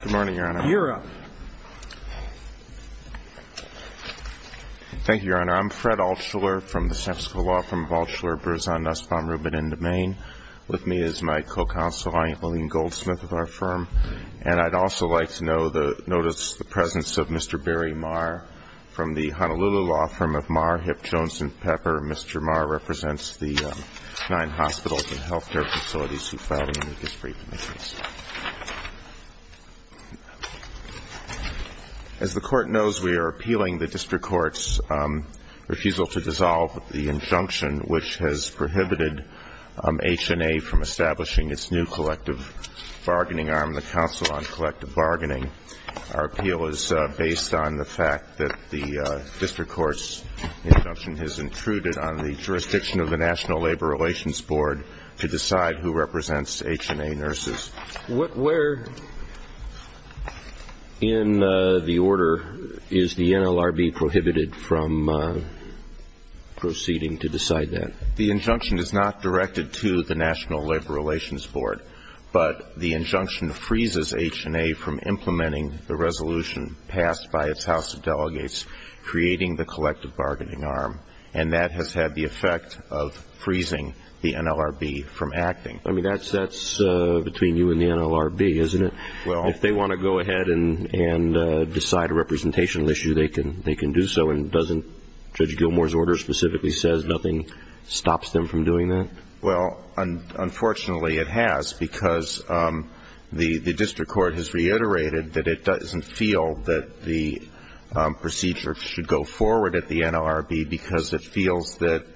Good morning, Your Honor. You're up. Thank you, Your Honor. I'm Fred Altshuler from the San Francisco Law Firm of Altshuler, Berzahn, Nussbaum, Rubin & DeMaine. With me is my co-counsel, Vineet Lillian Goldsmith of our firm. And I'd also like to notice the presence of Mr. Barry Marr from the Honolulu Law Firm of Marr, Hipp, Jones & Pepper. Mr. Marr represents the nine hospitals and health care facilities who filed in the district commissions. As the Court knows, we are appealing the district court's refusal to dissolve the injunction, which has prohibited HNA from establishing its new collective bargaining arm, the Council on Collective Bargaining. Our appeal is based on the fact that the district court's injunction has intruded on the jurisdiction of the National Labor Relations Board to decide who represents HNA nurses. Where in the order is the NLRB prohibited from proceeding to decide that? The injunction is not directed to the National Labor Relations Board, but the injunction freezes HNA from implementing the resolution passed by its House of Delegates, creating the collective bargaining arm. And that has had the effect of freezing the NLRB from acting. That's between you and the NLRB, isn't it? If they want to go ahead and decide a representational issue, they can do so. And doesn't Judge Gilmour's order specifically say nothing stops them from doing that? Well, unfortunately, it has, because the district court has reiterated that it doesn't feel that the procedure should go forward at the NLRB because it feels that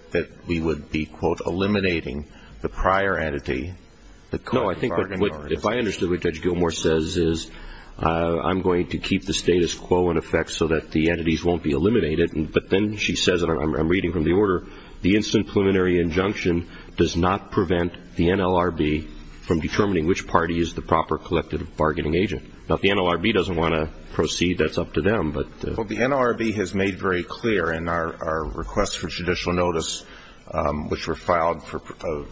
we would be, quote, eliminating the prior entity, the collective bargaining arm. No, I think what, if I understood what Judge Gilmour says is, I'm going to keep the status quo in effect so that the entities won't be eliminated. But then she says, and I'm reading from the order, the instant preliminary injunction does not prevent the NLRB from determining which party is the proper collective bargaining agent. Now, if the NLRB doesn't want to proceed, that's up to them. Well, the NLRB has made very clear in our request for judicial notice, which were filed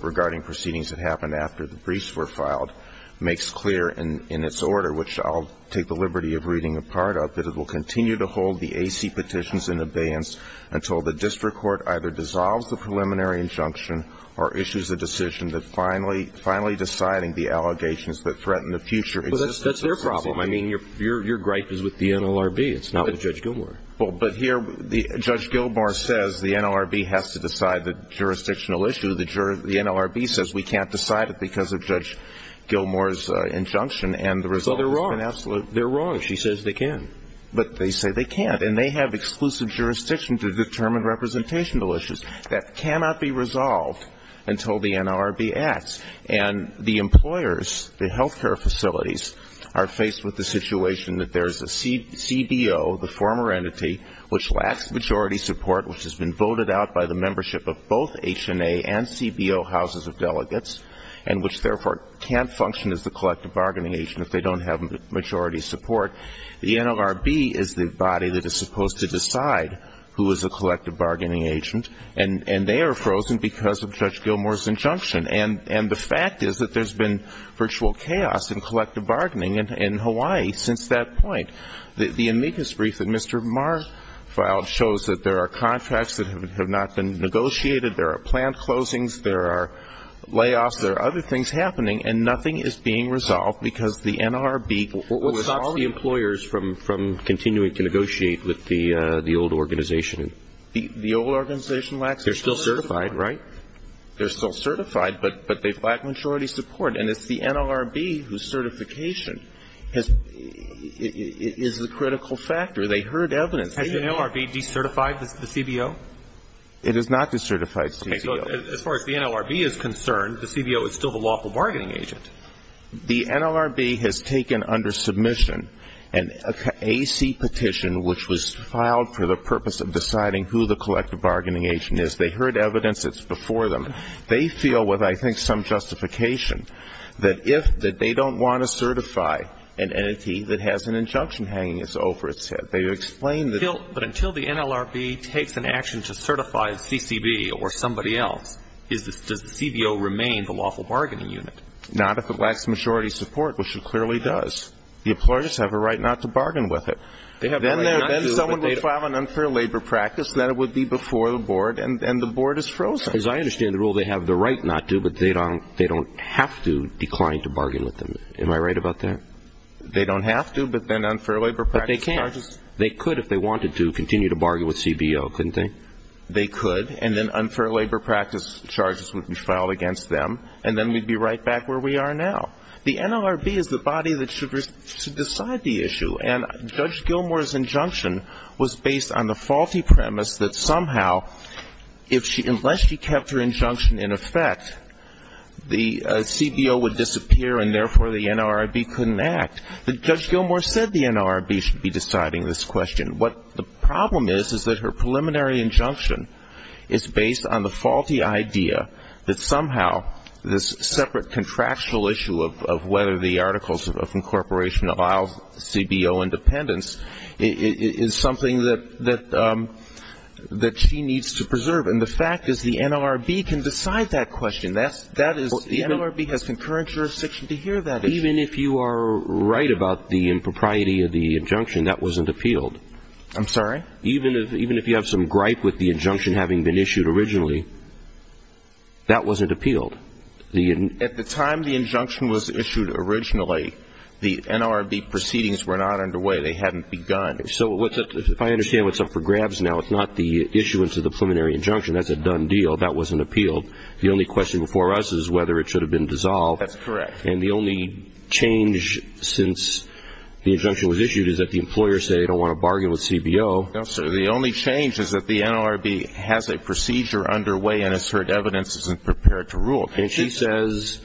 regarding proceedings that happened after the briefs were filed, makes clear in its order, which I'll take the liberty of reading a part of, that it will continue to hold the AC petitions in abeyance until the district court either dissolves the preliminary injunction or issues a decision that finally deciding the allegations that threaten the future existence of the agency. Well, that's their problem. I mean, your gripe is with the NLRB. It's not with Judge Gilmour. Well, but here, Judge Gilmour says the NLRB has to decide the jurisdictional issue. The NLRB says we can't decide it because of Judge Gilmour's injunction, and the result has been absolute. So they're wrong. They're wrong. But she says they can. But they say they can't. And they have exclusive jurisdiction to determine representational issues. That cannot be resolved until the NLRB acts. And the employers, the health care facilities, are faced with the situation that there is a CBO, the former entity, which lacks majority support, which has been voted out by the membership of both HNA and CBO houses of delegates, and which, therefore, can't function as the collective bargaining agent if they don't have majority support. The NLRB is the body that is supposed to decide who is a collective bargaining agent, and they are frozen because of Judge Gilmour's injunction. And the fact is that there's been virtual chaos in collective bargaining in Hawaii since that point. The amicus brief that Mr. Marr filed shows that there are contracts that have not been negotiated, there are planned closings, there are layoffs, there are other things happening, and nothing is being resolved because the NLRB, which stops the employers from continuing to negotiate with the old organization. The old organization lacks majority support. They're still certified, right? They're still certified, but they lack majority support. And it's the NLRB whose certification is the critical factor. They heard evidence. Has the NLRB decertified the CBO? It has not decertified CBO. Okay. So as far as the NLRB is concerned, the CBO is still the lawful bargaining agent. The NLRB has taken under submission an AC petition, which was filed for the purpose of deciding who the collective bargaining agent is. They heard evidence. It's before them. They feel, with I think some justification, that if they don't want to certify an entity that has an injunction hanging over its head, But until the NLRB takes an action to certify a CCB or somebody else, does the CBO remain the lawful bargaining unit? Not if it lacks majority support, which it clearly does. The employers have a right not to bargain with it. Then someone will file an unfair labor practice, and that would be before the board, and the board is frozen. As I understand the rule, they have the right not to, but they don't have to decline to bargain with them. Am I right about that? They don't have to, but then unfair labor practice charges. They can. They could, if they wanted to, continue to bargain with CBO, couldn't they? They could, and then unfair labor practice charges would be filed against them, and then we'd be right back where we are now. The NLRB is the body that should decide the issue, and Judge Gilmour's injunction was based on the faulty premise that somehow, unless she kept her injunction in effect, the CBO would disappear, and therefore the NLRB couldn't act. Judge Gilmour said the NLRB should be deciding this question. What the problem is is that her preliminary injunction is based on the faulty idea that somehow this separate contractual issue of whether the articles of incorporation allow CBO independence is something that she needs to preserve, and the fact is the NLRB can decide that question. The NLRB has concurrent jurisdiction to hear that issue. Even if you are right about the impropriety of the injunction, that wasn't appealed. I'm sorry? Even if you have some gripe with the injunction having been issued originally, that wasn't appealed. At the time the injunction was issued originally, the NLRB proceedings were not underway. They hadn't begun. So if I understand what's up for grabs now, it's not the issuance of the preliminary injunction. That's a done deal. That wasn't appealed. The only question before us is whether it should have been dissolved. That's correct. And the only change since the injunction was issued is that the employers say they don't want to bargain with CBO. Yes, sir. The only change is that the NLRB has a procedure underway and has heard evidence and is prepared to rule. And she says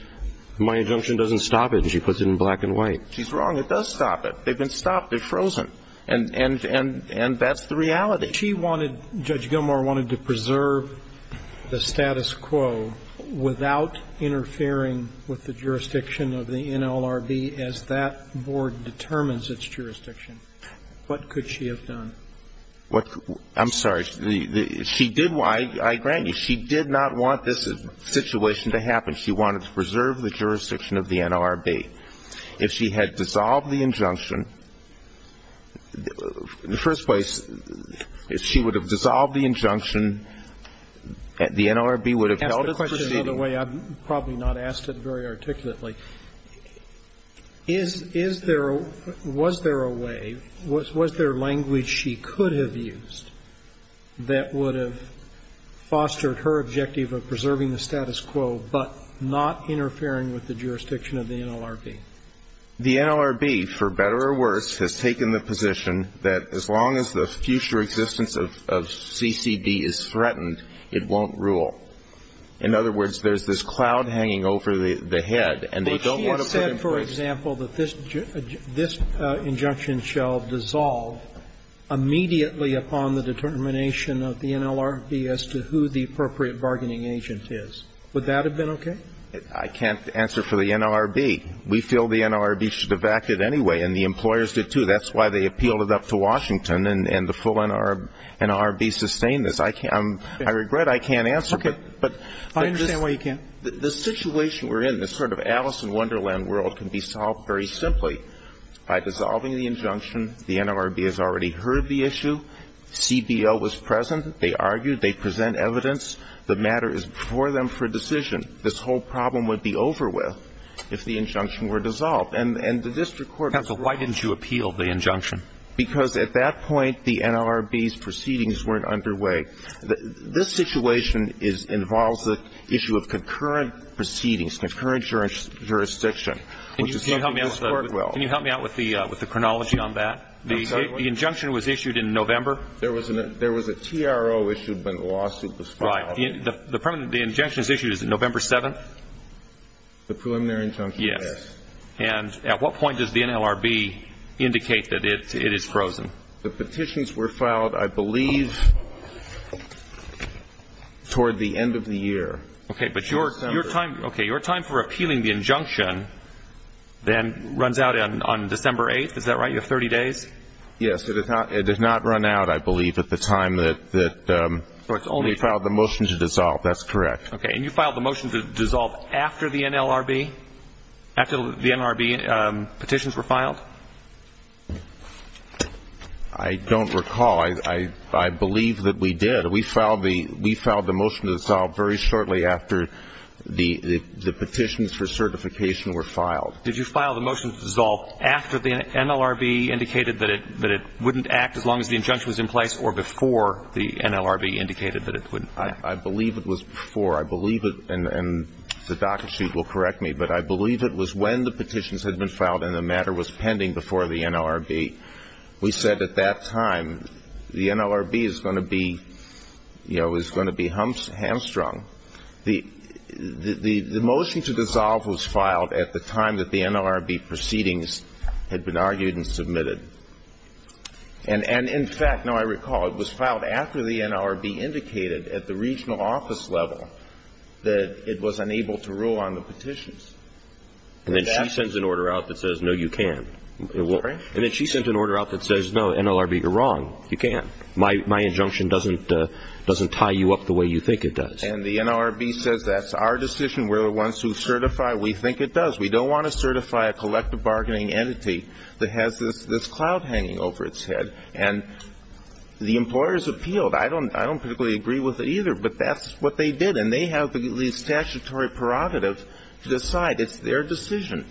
my injunction doesn't stop it, and she puts it in black and white. She's wrong. It does stop it. They've been stopped. They're frozen. And that's the reality. If she wanted, Judge Gilmour wanted to preserve the status quo without interfering with the jurisdiction of the NLRB as that board determines its jurisdiction, what could she have done? I'm sorry. She did why, I grant you. She did not want this situation to happen. She wanted to preserve the jurisdiction of the NLRB. If she had dissolved the injunction, in the first place, if she would have dissolved the injunction, the NLRB would have held its proceeding. To ask the question another way, I've probably not asked it very articulately. Is there or was there a way, was there language she could have used that would have fostered her objective of preserving the status quo but not interfering with the jurisdiction of the NLRB? The NLRB, for better or worse, has taken the position that as long as the future existence of CCB is threatened, it won't rule. In other words, there's this cloud hanging over the head, and they don't want to put in place But she has said, for example, that this injunction shall dissolve immediately upon the determination of the NLRB as to who the appropriate bargaining agent is. Would that have been okay? I can't answer for the NLRB. We feel the NLRB should have acted anyway, and the employers did, too. That's why they appealed it up to Washington, and the full NLRB sustained this. I can't. I regret I can't answer, but this situation we're in, this sort of Alice in Wonderland world, can be solved very simply by dissolving the injunction. The NLRB has already heard the issue. CBO was present. They argued. They present evidence. The matter is before them for decision. This whole problem would be over with if the injunction were dissolved. And the district court was right. Counsel, why didn't you appeal the injunction? Because at that point, the NLRB's proceedings weren't underway. This situation involves the issue of concurrent proceedings, concurrent jurisdiction, which is something this Court will. Can you help me out with the chronology on that? The injunction was issued in November. There was a TRO issued when the lawsuit was filed. Right. The injunction is issued November 7th? The preliminary injunction, yes. Yes. And at what point does the NLRB indicate that it is frozen? The petitions were filed, I believe, toward the end of the year. Okay. But your time for appealing the injunction then runs out on December 8th. Is that right? You have 30 days? Yes. It does not run out, I believe, at the time that we filed the motion to dissolve. That's correct. Okay. And you filed the motion to dissolve after the NLRB? After the NLRB petitions were filed? I don't recall. I believe that we did. We filed the motion to dissolve very shortly after the petitions for certification were filed. Did you file the motion to dissolve after the NLRB indicated that it wouldn't act as long as the injunction was in place or before the NLRB indicated that it wouldn't act? I believe it was before. I believe it, and the docket sheet will correct me, but I believe it was when the petitions had been filed and the matter was pending before the NLRB. We said at that time the NLRB is going to be, you know, is going to be hamstrung. The motion to dissolve was filed at the time that the NLRB proceedings had been argued and submitted. And, in fact, now I recall it was filed after the NLRB indicated at the regional office level that it was unable to rule on the petitions. And then she sends an order out that says, no, you can't. Sorry? And then she sends an order out that says, no, NLRB, you're wrong, you can't. My injunction doesn't tie you up the way you think it does. And the NLRB says that's our decision. We're the ones who certify. We think it does. We don't want to certify a collective bargaining entity that has this cloud hanging over its head. And the employers appealed. I don't particularly agree with it either, but that's what they did. And they have the statutory prerogative to decide. It's their decision.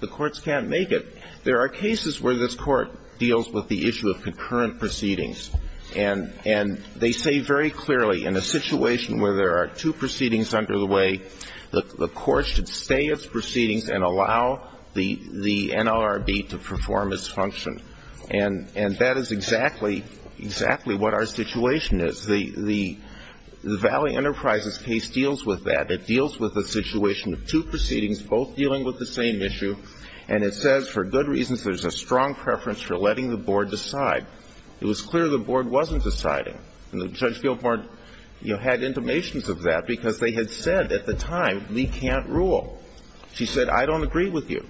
The courts can't make it. There are cases where this Court deals with the issue of concurrent proceedings, and they say very clearly in a situation where there are two proceedings under the way, the court should stay its proceedings and allow the NLRB to perform its function. And that is exactly, exactly what our situation is. The Valley Enterprises case deals with that. It deals with the situation of two proceedings both dealing with the same issue, and it says for good reasons there's a strong preference for letting the board decide. It was clear the board wasn't deciding. And Judge Gilmore had intimations of that because they had said at the time we can't rule. She said I don't agree with you.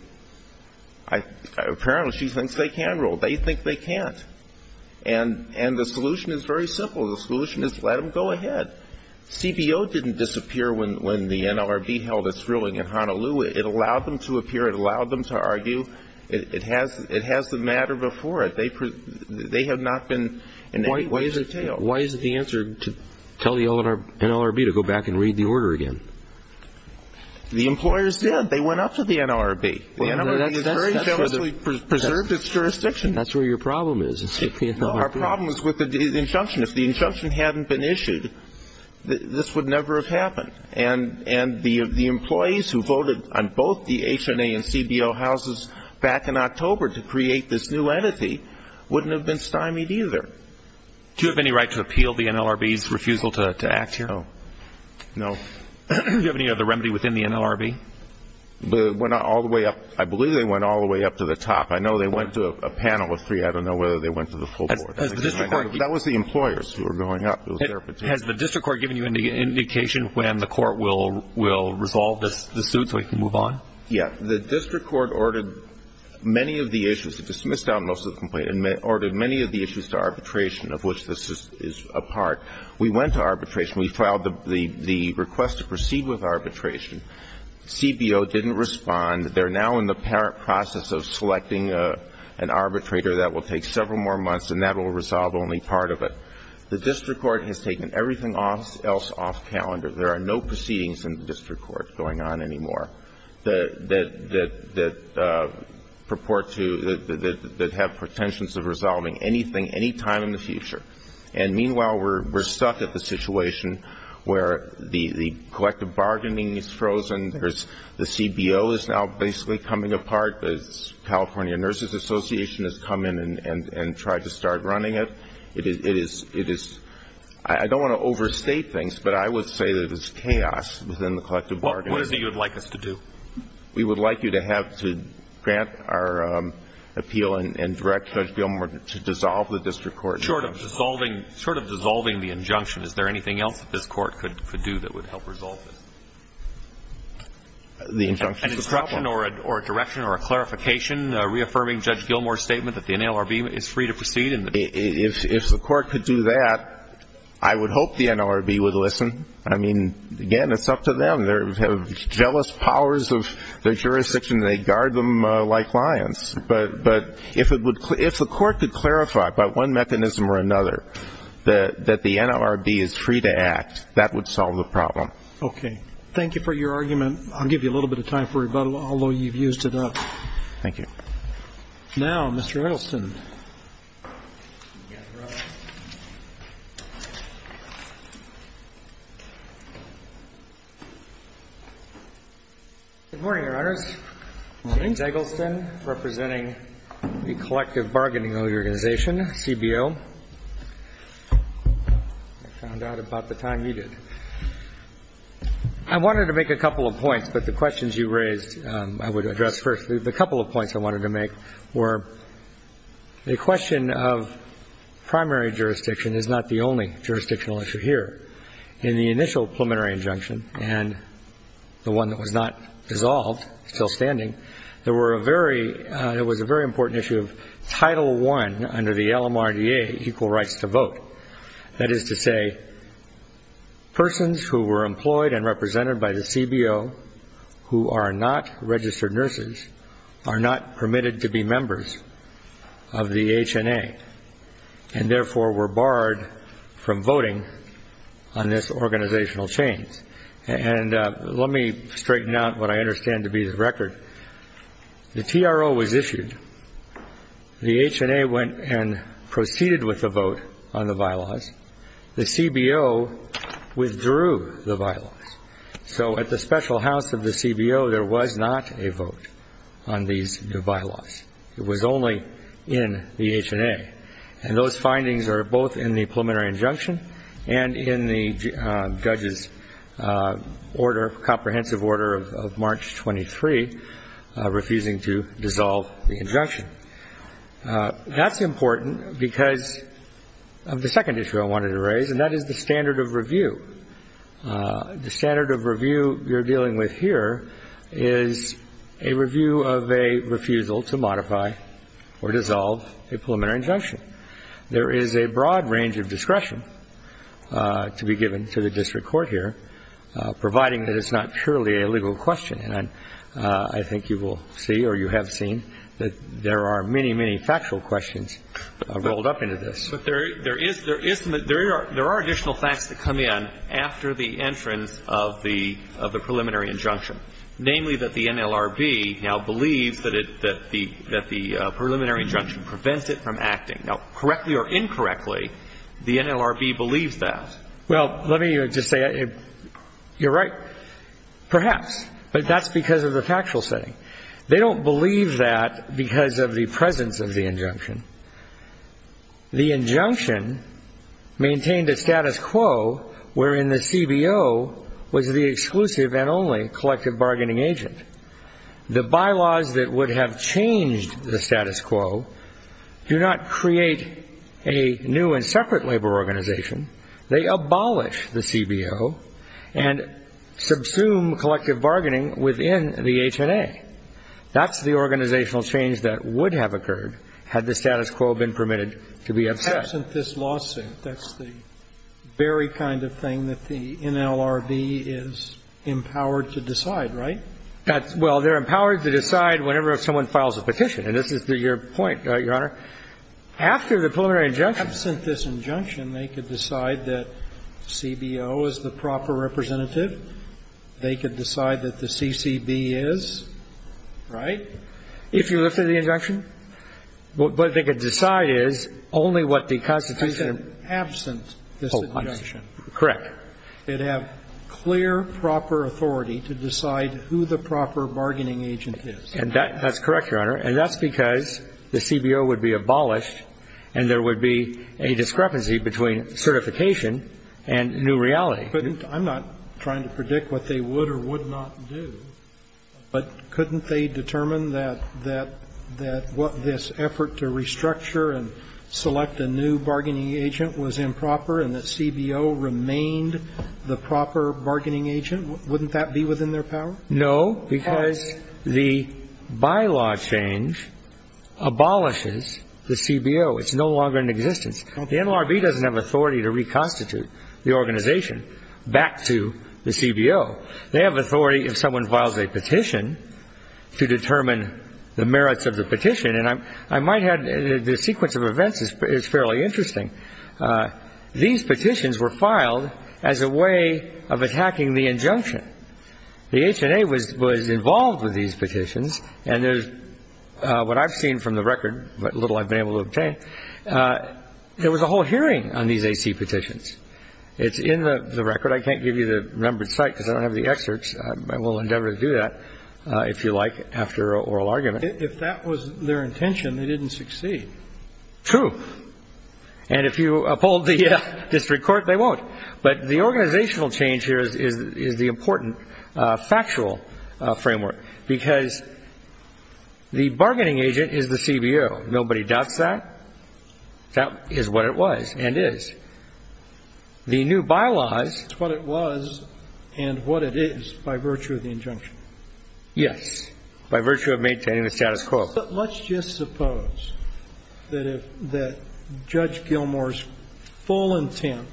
Apparently she thinks they can rule. They think they can't. And the solution is very simple. The solution is let them go ahead. CBO didn't disappear when the NLRB held its ruling in Honolulu. It allowed them to appear. It allowed them to argue. It has the matter before it. They have not been in any way detailed. Why is it the answer to tell the NLRB to go back and read the order again? The employers did. They went up to the NLRB. The NLRB has very famously preserved its jurisdiction. That's where your problem is. Our problem is with the injunction. If the injunction hadn't been issued, this would never have happened. And the employees who voted on both the HNA and CBO houses back in October to create this new entity wouldn't have been stymied either. Do you have any right to appeal the NLRB's refusal to act here? No. No. Do you have any other remedy within the NLRB? Went all the way up. I believe they went all the way up to the top. I know they went to a panel of three. I don't know whether they went to the full board. That was the employers who were going up. Has the district court given you an indication when the court will resolve the suit so we can move on? Yes. The district court ordered many of the issues. It dismissed almost all the complaints and ordered many of the issues to arbitration of which this is a part. We went to arbitration. We filed the request to proceed with arbitration. CBO didn't respond. They're now in the process of selecting an arbitrator that will take several more months and that will resolve only part of it. The district court has taken everything else off calendar. There are no proceedings in the district court going on anymore. That purport to, that have pretensions of resolving anything, any time in the future. And meanwhile, we're stuck at the situation where the collective bargaining is frozen. The CBO is now basically coming apart. The California Nurses Association has come in and tried to start running it. It is, I don't want to overstate things, but I would say that it's chaos within the collective bargaining. What is it you would like us to do? We would like you to have to grant our appeal and direct Judge Gilmore to dissolve the district court. Short of dissolving the injunction, is there anything else that this court could do that would help resolve this? The injunction is the problem. An instruction or a direction or a clarification reaffirming Judge Gilmore's statement that the NLRB is free to proceed? If the court could do that, I would hope the NLRB would listen. I mean, again, it's up to them. They have jealous powers of their jurisdiction. They guard them like lions. But if it would, if the court could clarify by one mechanism or another that the NLRB is free to act, that would solve the problem. Okay. Thank you for your argument. I'll give you a little bit of time for rebuttal, although you've used it up. Thank you. Now, Mr. Edelson. Good morning, Your Honors. Good morning. James Edelson representing the Collective Bargaining Organization, CBO. I found out about the time you did. I wanted to make a couple of points, but the questions you raised I would address first. The couple of points I wanted to make were the question of primary jurisdiction is not the only jurisdictional issue here. In the initial preliminary injunction and the one that was not dissolved, still standing, there was a very important issue of Title I under the LMRDA, equal rights to vote. That is to say, persons who were employed and represented by the CBO who are not registered nurses are not permitted to be members of the HNA and therefore were barred from voting on this organizational chain. And let me straighten out what I understand to be the record. The TRO was issued. The HNA went and proceeded with the vote on the bylaws. The CBO withdrew the bylaws. So at the special house of the CBO, there was not a vote on these bylaws. It was only in the HNA. And those findings are both in the preliminary injunction and in the judge's order, comprehensive order of March 23, refusing to dissolve the injunction. That's important because of the second issue I wanted to raise, and that is the standard of review. The standard of review you're dealing with here is a review of a refusal to modify or dissolve a preliminary injunction. There is a broad range of discretion to be given to the district court here, providing that it's not purely a legal question. And I think you will see or you have seen that there are many, many factual questions rolled up into this. But there is, there are additional facts that come in after the entrance of the preliminary injunction, namely that the NLRB now believes that the preliminary injunction prevents it from acting. Now, correctly or incorrectly, the NLRB believes that. Well, let me just say, you're right, perhaps. But that's because of the factual setting. They don't believe that because of the presence of the injunction. The injunction maintained a status quo wherein the CBO was the exclusive and only collective bargaining agent. The bylaws that would have changed the status quo do not create a new and separate labor organization. They abolish the CBO and subsume collective bargaining within the HNA. That's the organizational change that would have occurred had the status quo been permitted to be absent. Absent this lawsuit. That's the very kind of thing that the NLRB is empowered to decide, right? Well, they're empowered to decide whenever someone files a petition. And this is your point, Your Honor. After the preliminary injunction. Absent this injunction, they could decide that CBO is the proper representative. They could decide that the CCB is, right? If you lifted the injunction. But what they could decide is only what the Constitution. I said absent this injunction. Correct. They'd have clear, proper authority to decide who the proper bargaining agent is. And that's correct, Your Honor. And that's because the CBO would be abolished and there would be a discrepancy between certification and new reality. I'm not trying to predict what they would or would not do, but couldn't they determine that what this effort to restructure and select a new bargaining agent was improper and that CBO remained the proper bargaining agent? Wouldn't that be within their power? No, because the bylaw change abolishes the CBO. It's no longer in existence. The NLRB doesn't have authority to reconstitute the organization back to the CBO. They have authority if someone files a petition to determine the merits of the petition, and I might add the sequence of events is fairly interesting. These petitions were filed as a way of attacking the injunction. The HNA was involved with these petitions, and what I've seen from the record, what little I've been able to obtain, there was a whole hearing on these AC petitions. It's in the record. I can't give you the numbered site because I don't have the excerpts. I will endeavor to do that, if you like, after an oral argument. If that was their intention, they didn't succeed. True. And if you uphold the district court, they won't. But the organizational change here is the important factual framework, because the bargaining agent is the CBO. Nobody doubts that. That is what it was and is. The new bylaws. It's what it was and what it is by virtue of the injunction. Yes, by virtue of maintaining the status quo. But let's just suppose that if Judge Gilmour's full intent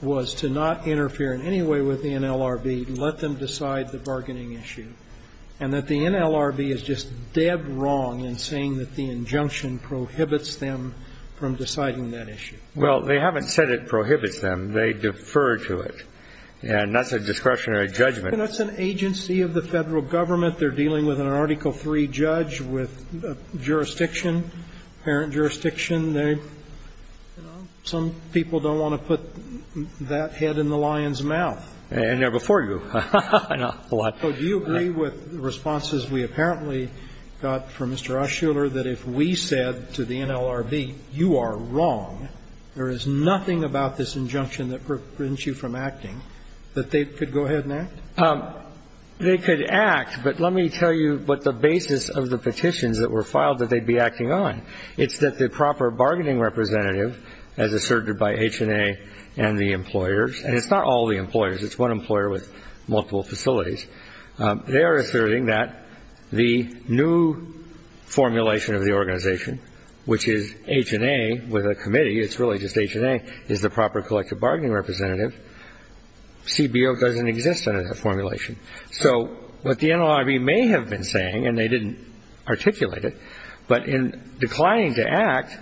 was to not interfere in any way with the NLRB, let them decide the bargaining issue, and that the NLRB is just dead wrong in saying that the injunction prohibits them from deciding that issue. Well, they haven't said it prohibits them. They defer to it. And that's a discretionary judgment. That's an agency of the Federal Government. They're dealing with an Article III judge with jurisdiction, parent jurisdiction. Well, that's an injunction. Some people don't want to put that head in the lion's mouth. And they're before you. I know. A lot. So do you agree with the responses we apparently got from Mr. Ushuler that if we said to the NLRB, you are wrong, there is nothing about this injunction that prevents you from acting, that they could go ahead and act? They could act, but let me tell you what the basis of the petitions that were filed that they'd be acting on. It's that the proper bargaining representative, as asserted by HNA and the employers, and it's not all the employers. It's one employer with multiple facilities. They are asserting that the new formulation of the organization, which is HNA with a committee, it's really just HNA, is the proper collective bargaining representative. CBO doesn't exist under that formulation. So what the NLRB may have been saying, and they didn't articulate it, but in declining to act,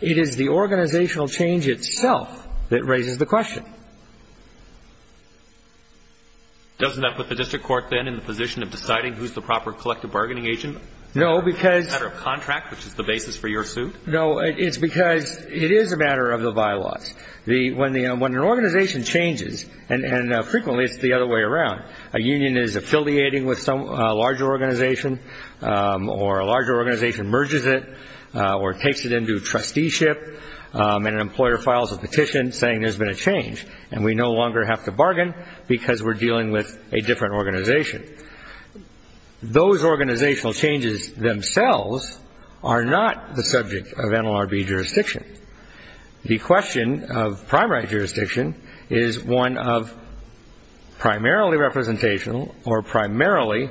it is the organizational change itself that raises the question. Doesn't that put the district court then in the position of deciding who's the proper collective bargaining agent? No, because of contract, which is the basis for your suit? No, it's because it is a matter of the bylaws. When an organization changes, and frequently it's the other way around, a union is affiliating with a larger organization, or a larger organization merges it, or takes it into trusteeship, and an employer files a petition saying there's been a change, and we no longer have to bargain because we're dealing with a different organization. Those organizational changes themselves are not the subject of NLRB jurisdiction. The question of primary jurisdiction is one of primarily representational, or primarily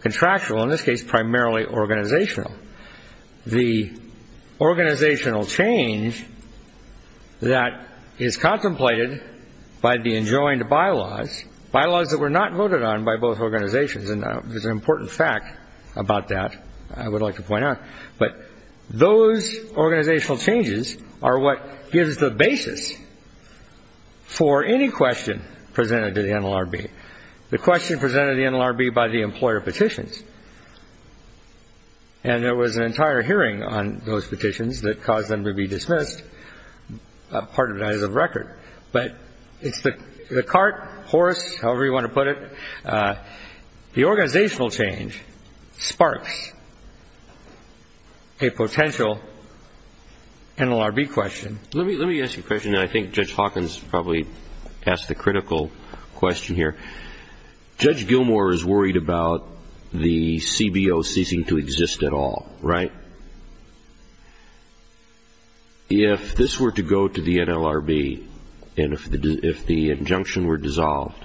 contractual, in this case, primarily organizational. The organizational change that is contemplated by the enjoined bylaws, bylaws that were not voted on by both organizations, and there's an important fact about that I would like to point out, but those organizational changes are what gives the basis for any question presented to the NLRB. The question presented to the NLRB by the employer petitions, and there was an entire hearing on those petitions that caused them to be dismissed, part of it is of record, but it's the cart, horse, however you want to put it. The organizational change sparks a potential NLRB question. Let me ask you a question that I think Judge Hawkins probably asked the critical question here. Judge Gilmour is worried about the CBO ceasing to exist at all, right? If this were to go to the NLRB, and if the injunction were dissolved,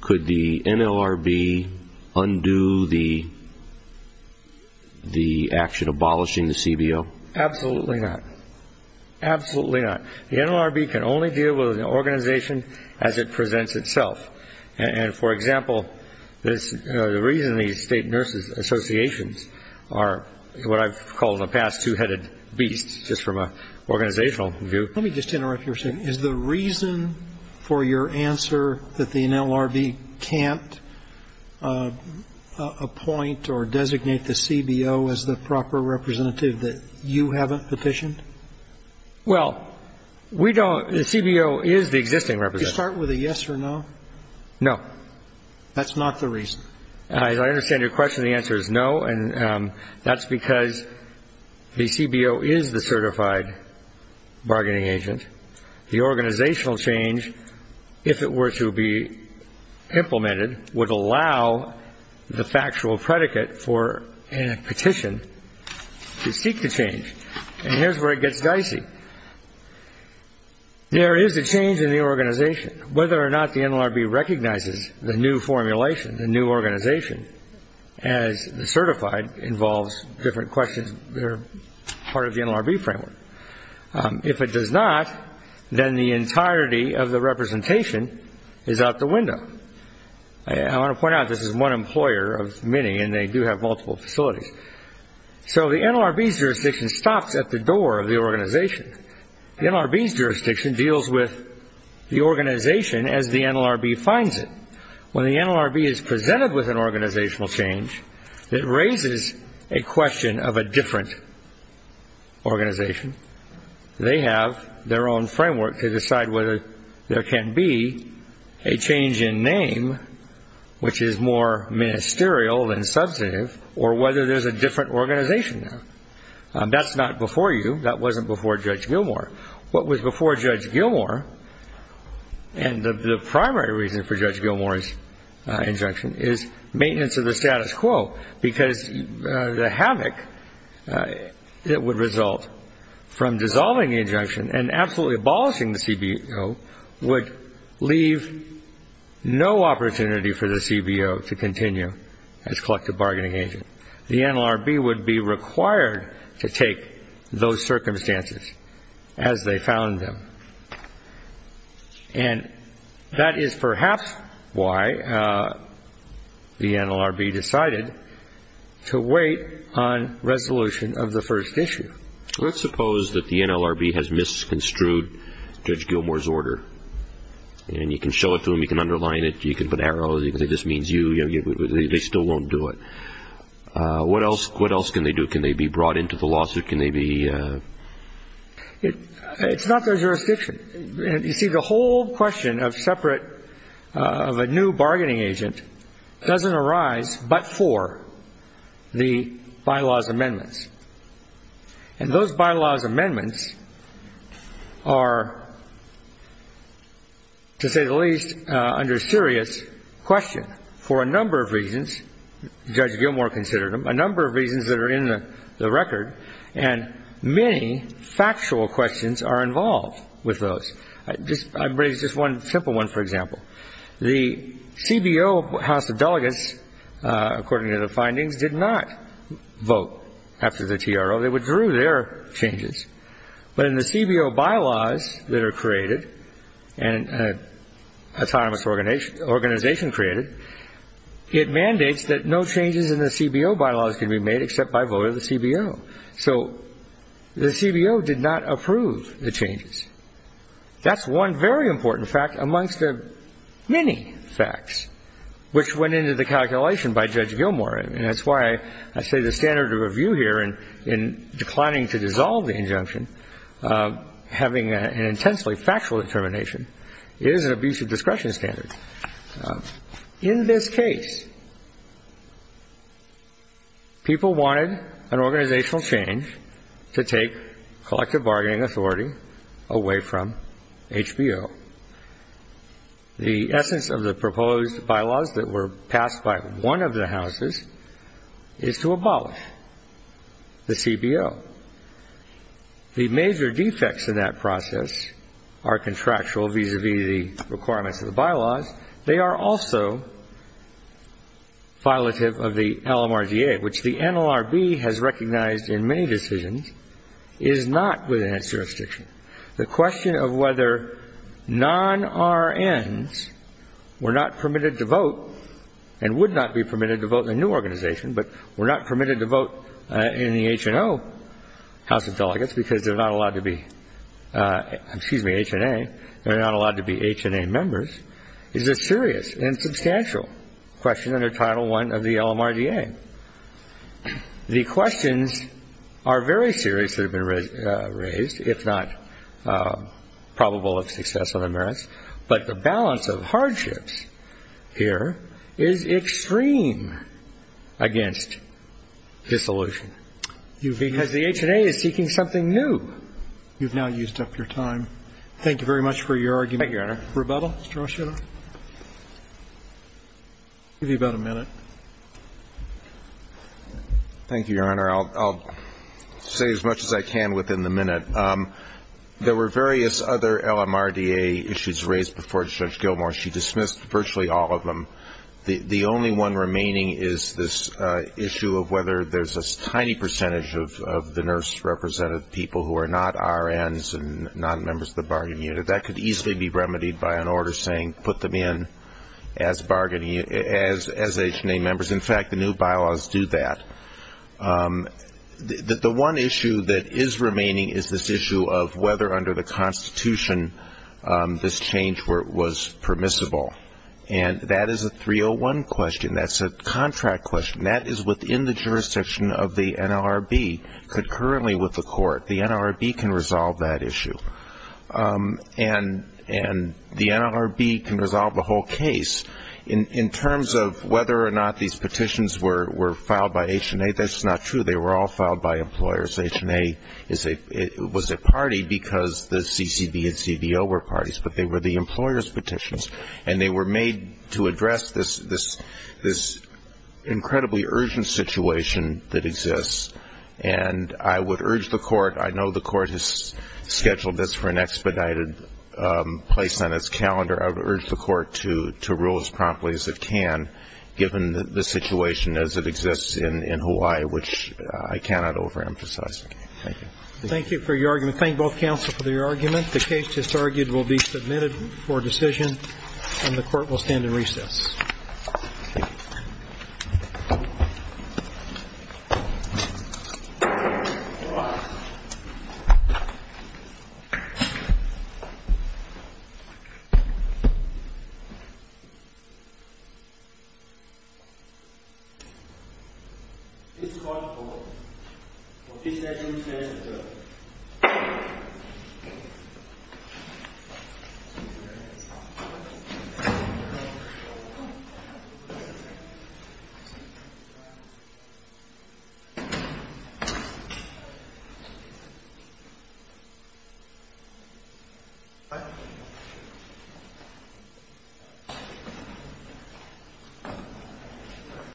could the NLRB undo the action abolishing the CBO? Absolutely not. Absolutely not. The NLRB can only deal with an organization as it presents itself. And, for example, the reason these state nurses associations are what I've called in the past two-headed beasts, just from an organizational view. Let me just interrupt you for a second. Is the reason for your answer that the NLRB can't appoint or designate the CBO as the proper representative that you haven't petitioned? Well, we don't. The CBO is the existing representative. Do you start with a yes or no? No. That's not the reason? I understand your question. The answer is no, and that's because the CBO is the certified bargaining agent. The organizational change, if it were to be implemented, would allow the factual predicate for a petition to seek to change. And here's where it gets dicey. There is a change in the organization. And whether or not the NLRB recognizes the new formulation, the new organization, as certified involves different questions that are part of the NLRB framework. If it does not, then the entirety of the representation is out the window. I want to point out this is one employer of many, and they do have multiple facilities. So the NLRB's jurisdiction stops at the door of the organization. The NLRB's jurisdiction deals with the organization as the NLRB finds it. When the NLRB is presented with an organizational change, it raises a question of a different organization. They have their own framework to decide whether there can be a change in name, which is more ministerial than substantive, or whether there's a different organization now. That's not before you. That wasn't before Judge Gilmour. What was before Judge Gilmour, and the primary reason for Judge Gilmour's injunction, is maintenance of the status quo, because the havoc that would result from dissolving the injunction and absolutely abolishing the CBO would leave no opportunity for the CBO to continue as collective bargaining agent. The NLRB would be required to take those circumstances as they found them. And that is perhaps why the NLRB decided to wait on resolution of the first issue. Let's suppose that the NLRB has misconstrued Judge Gilmour's order, and you can show it to them, you can underline it, you can put arrows, they still won't do it. What else can they do? Can they be brought into the lawsuit? It's not their jurisdiction. You see, the whole question of a new bargaining agent doesn't arise but for the bylaw's amendments. And those bylaw's amendments are, to say the least, under serious question, for a number of reasons Judge Gilmour considered them, a number of reasons that are in the record, and many factual questions are involved with those. I'll raise just one simple one, for example. The CBO House of Delegates, according to the findings, did not vote after the TRO. They withdrew their changes. But in the CBO bylaws that are created and an autonomous organization created, it mandates that no changes in the CBO bylaws can be made except by vote of the CBO. That's one very important fact amongst the many facts which went into the calculation by Judge Gilmour, and that's why I say the standard of review here in declining to dissolve the injunction, having an intensely factual determination, is an abuse of discretion standard. In this case, people wanted an organizational change to take collective bargaining authority away from HBO. The essence of the proposed bylaws that were passed by one of the houses is to abolish the CBO. The major defects in that process are contractual vis-à-vis the requirements of the bylaws. They are also violative of the LMRDA, which the NLRB has recognized in many decisions is not within its jurisdiction. The question of whether non-RNs were not permitted to vote and would not be permitted to vote in a new organization, but were not permitted to vote in the HNO House of Delegates because they're not allowed to be HNA, they're not allowed to be HNA members, is a serious and substantial question under Title I of the LMRDA. The questions are very serious that have been raised, if not probable of success on the merits, but the balance of hardships here is extreme against dissolution. Because the HNA is seeking something new. You've now used up your time. Thank you very much for your argument. Thank you, Your Honor. Rebuttal, Mr. O'Shea? I'll give you about a minute. Thank you, Your Honor. I'll say as much as I can within the minute. There were various other LMRDA issues raised before Judge Gilmour. She dismissed virtually all of them. The only one remaining is this issue of whether there's a tiny percentage of the nurse-represented people who are not RNs and not members of the bargaining unit. That could easily be remedied by an order saying put them in as HNA members. In fact, the new bylaws do that. The one issue that is remaining is this issue of whether under the Constitution this change was permissible. And that is a 301 question. That's a contract question. That is within the jurisdiction of the NLRB concurrently with the court. The NLRB can resolve that issue. And the NLRB can resolve the whole case. In terms of whether or not these petitions were filed by HNA, that's not true. They were all filed by employers. HNA was a party because the CCB and CDO were parties. But they were the employers' petitions. And they were made to address this incredibly urgent situation that exists. And I would urge the court, I know the court has scheduled this for an expedited place on its calendar. I would urge the court to rule as promptly as it can, given the situation as it exists in Hawaii, which I cannot overemphasize. Thank you. Thank you for your argument. Thank both counsel for your argument. The case, as argued, will be submitted for decision. And the court will stand in recess. Thank you.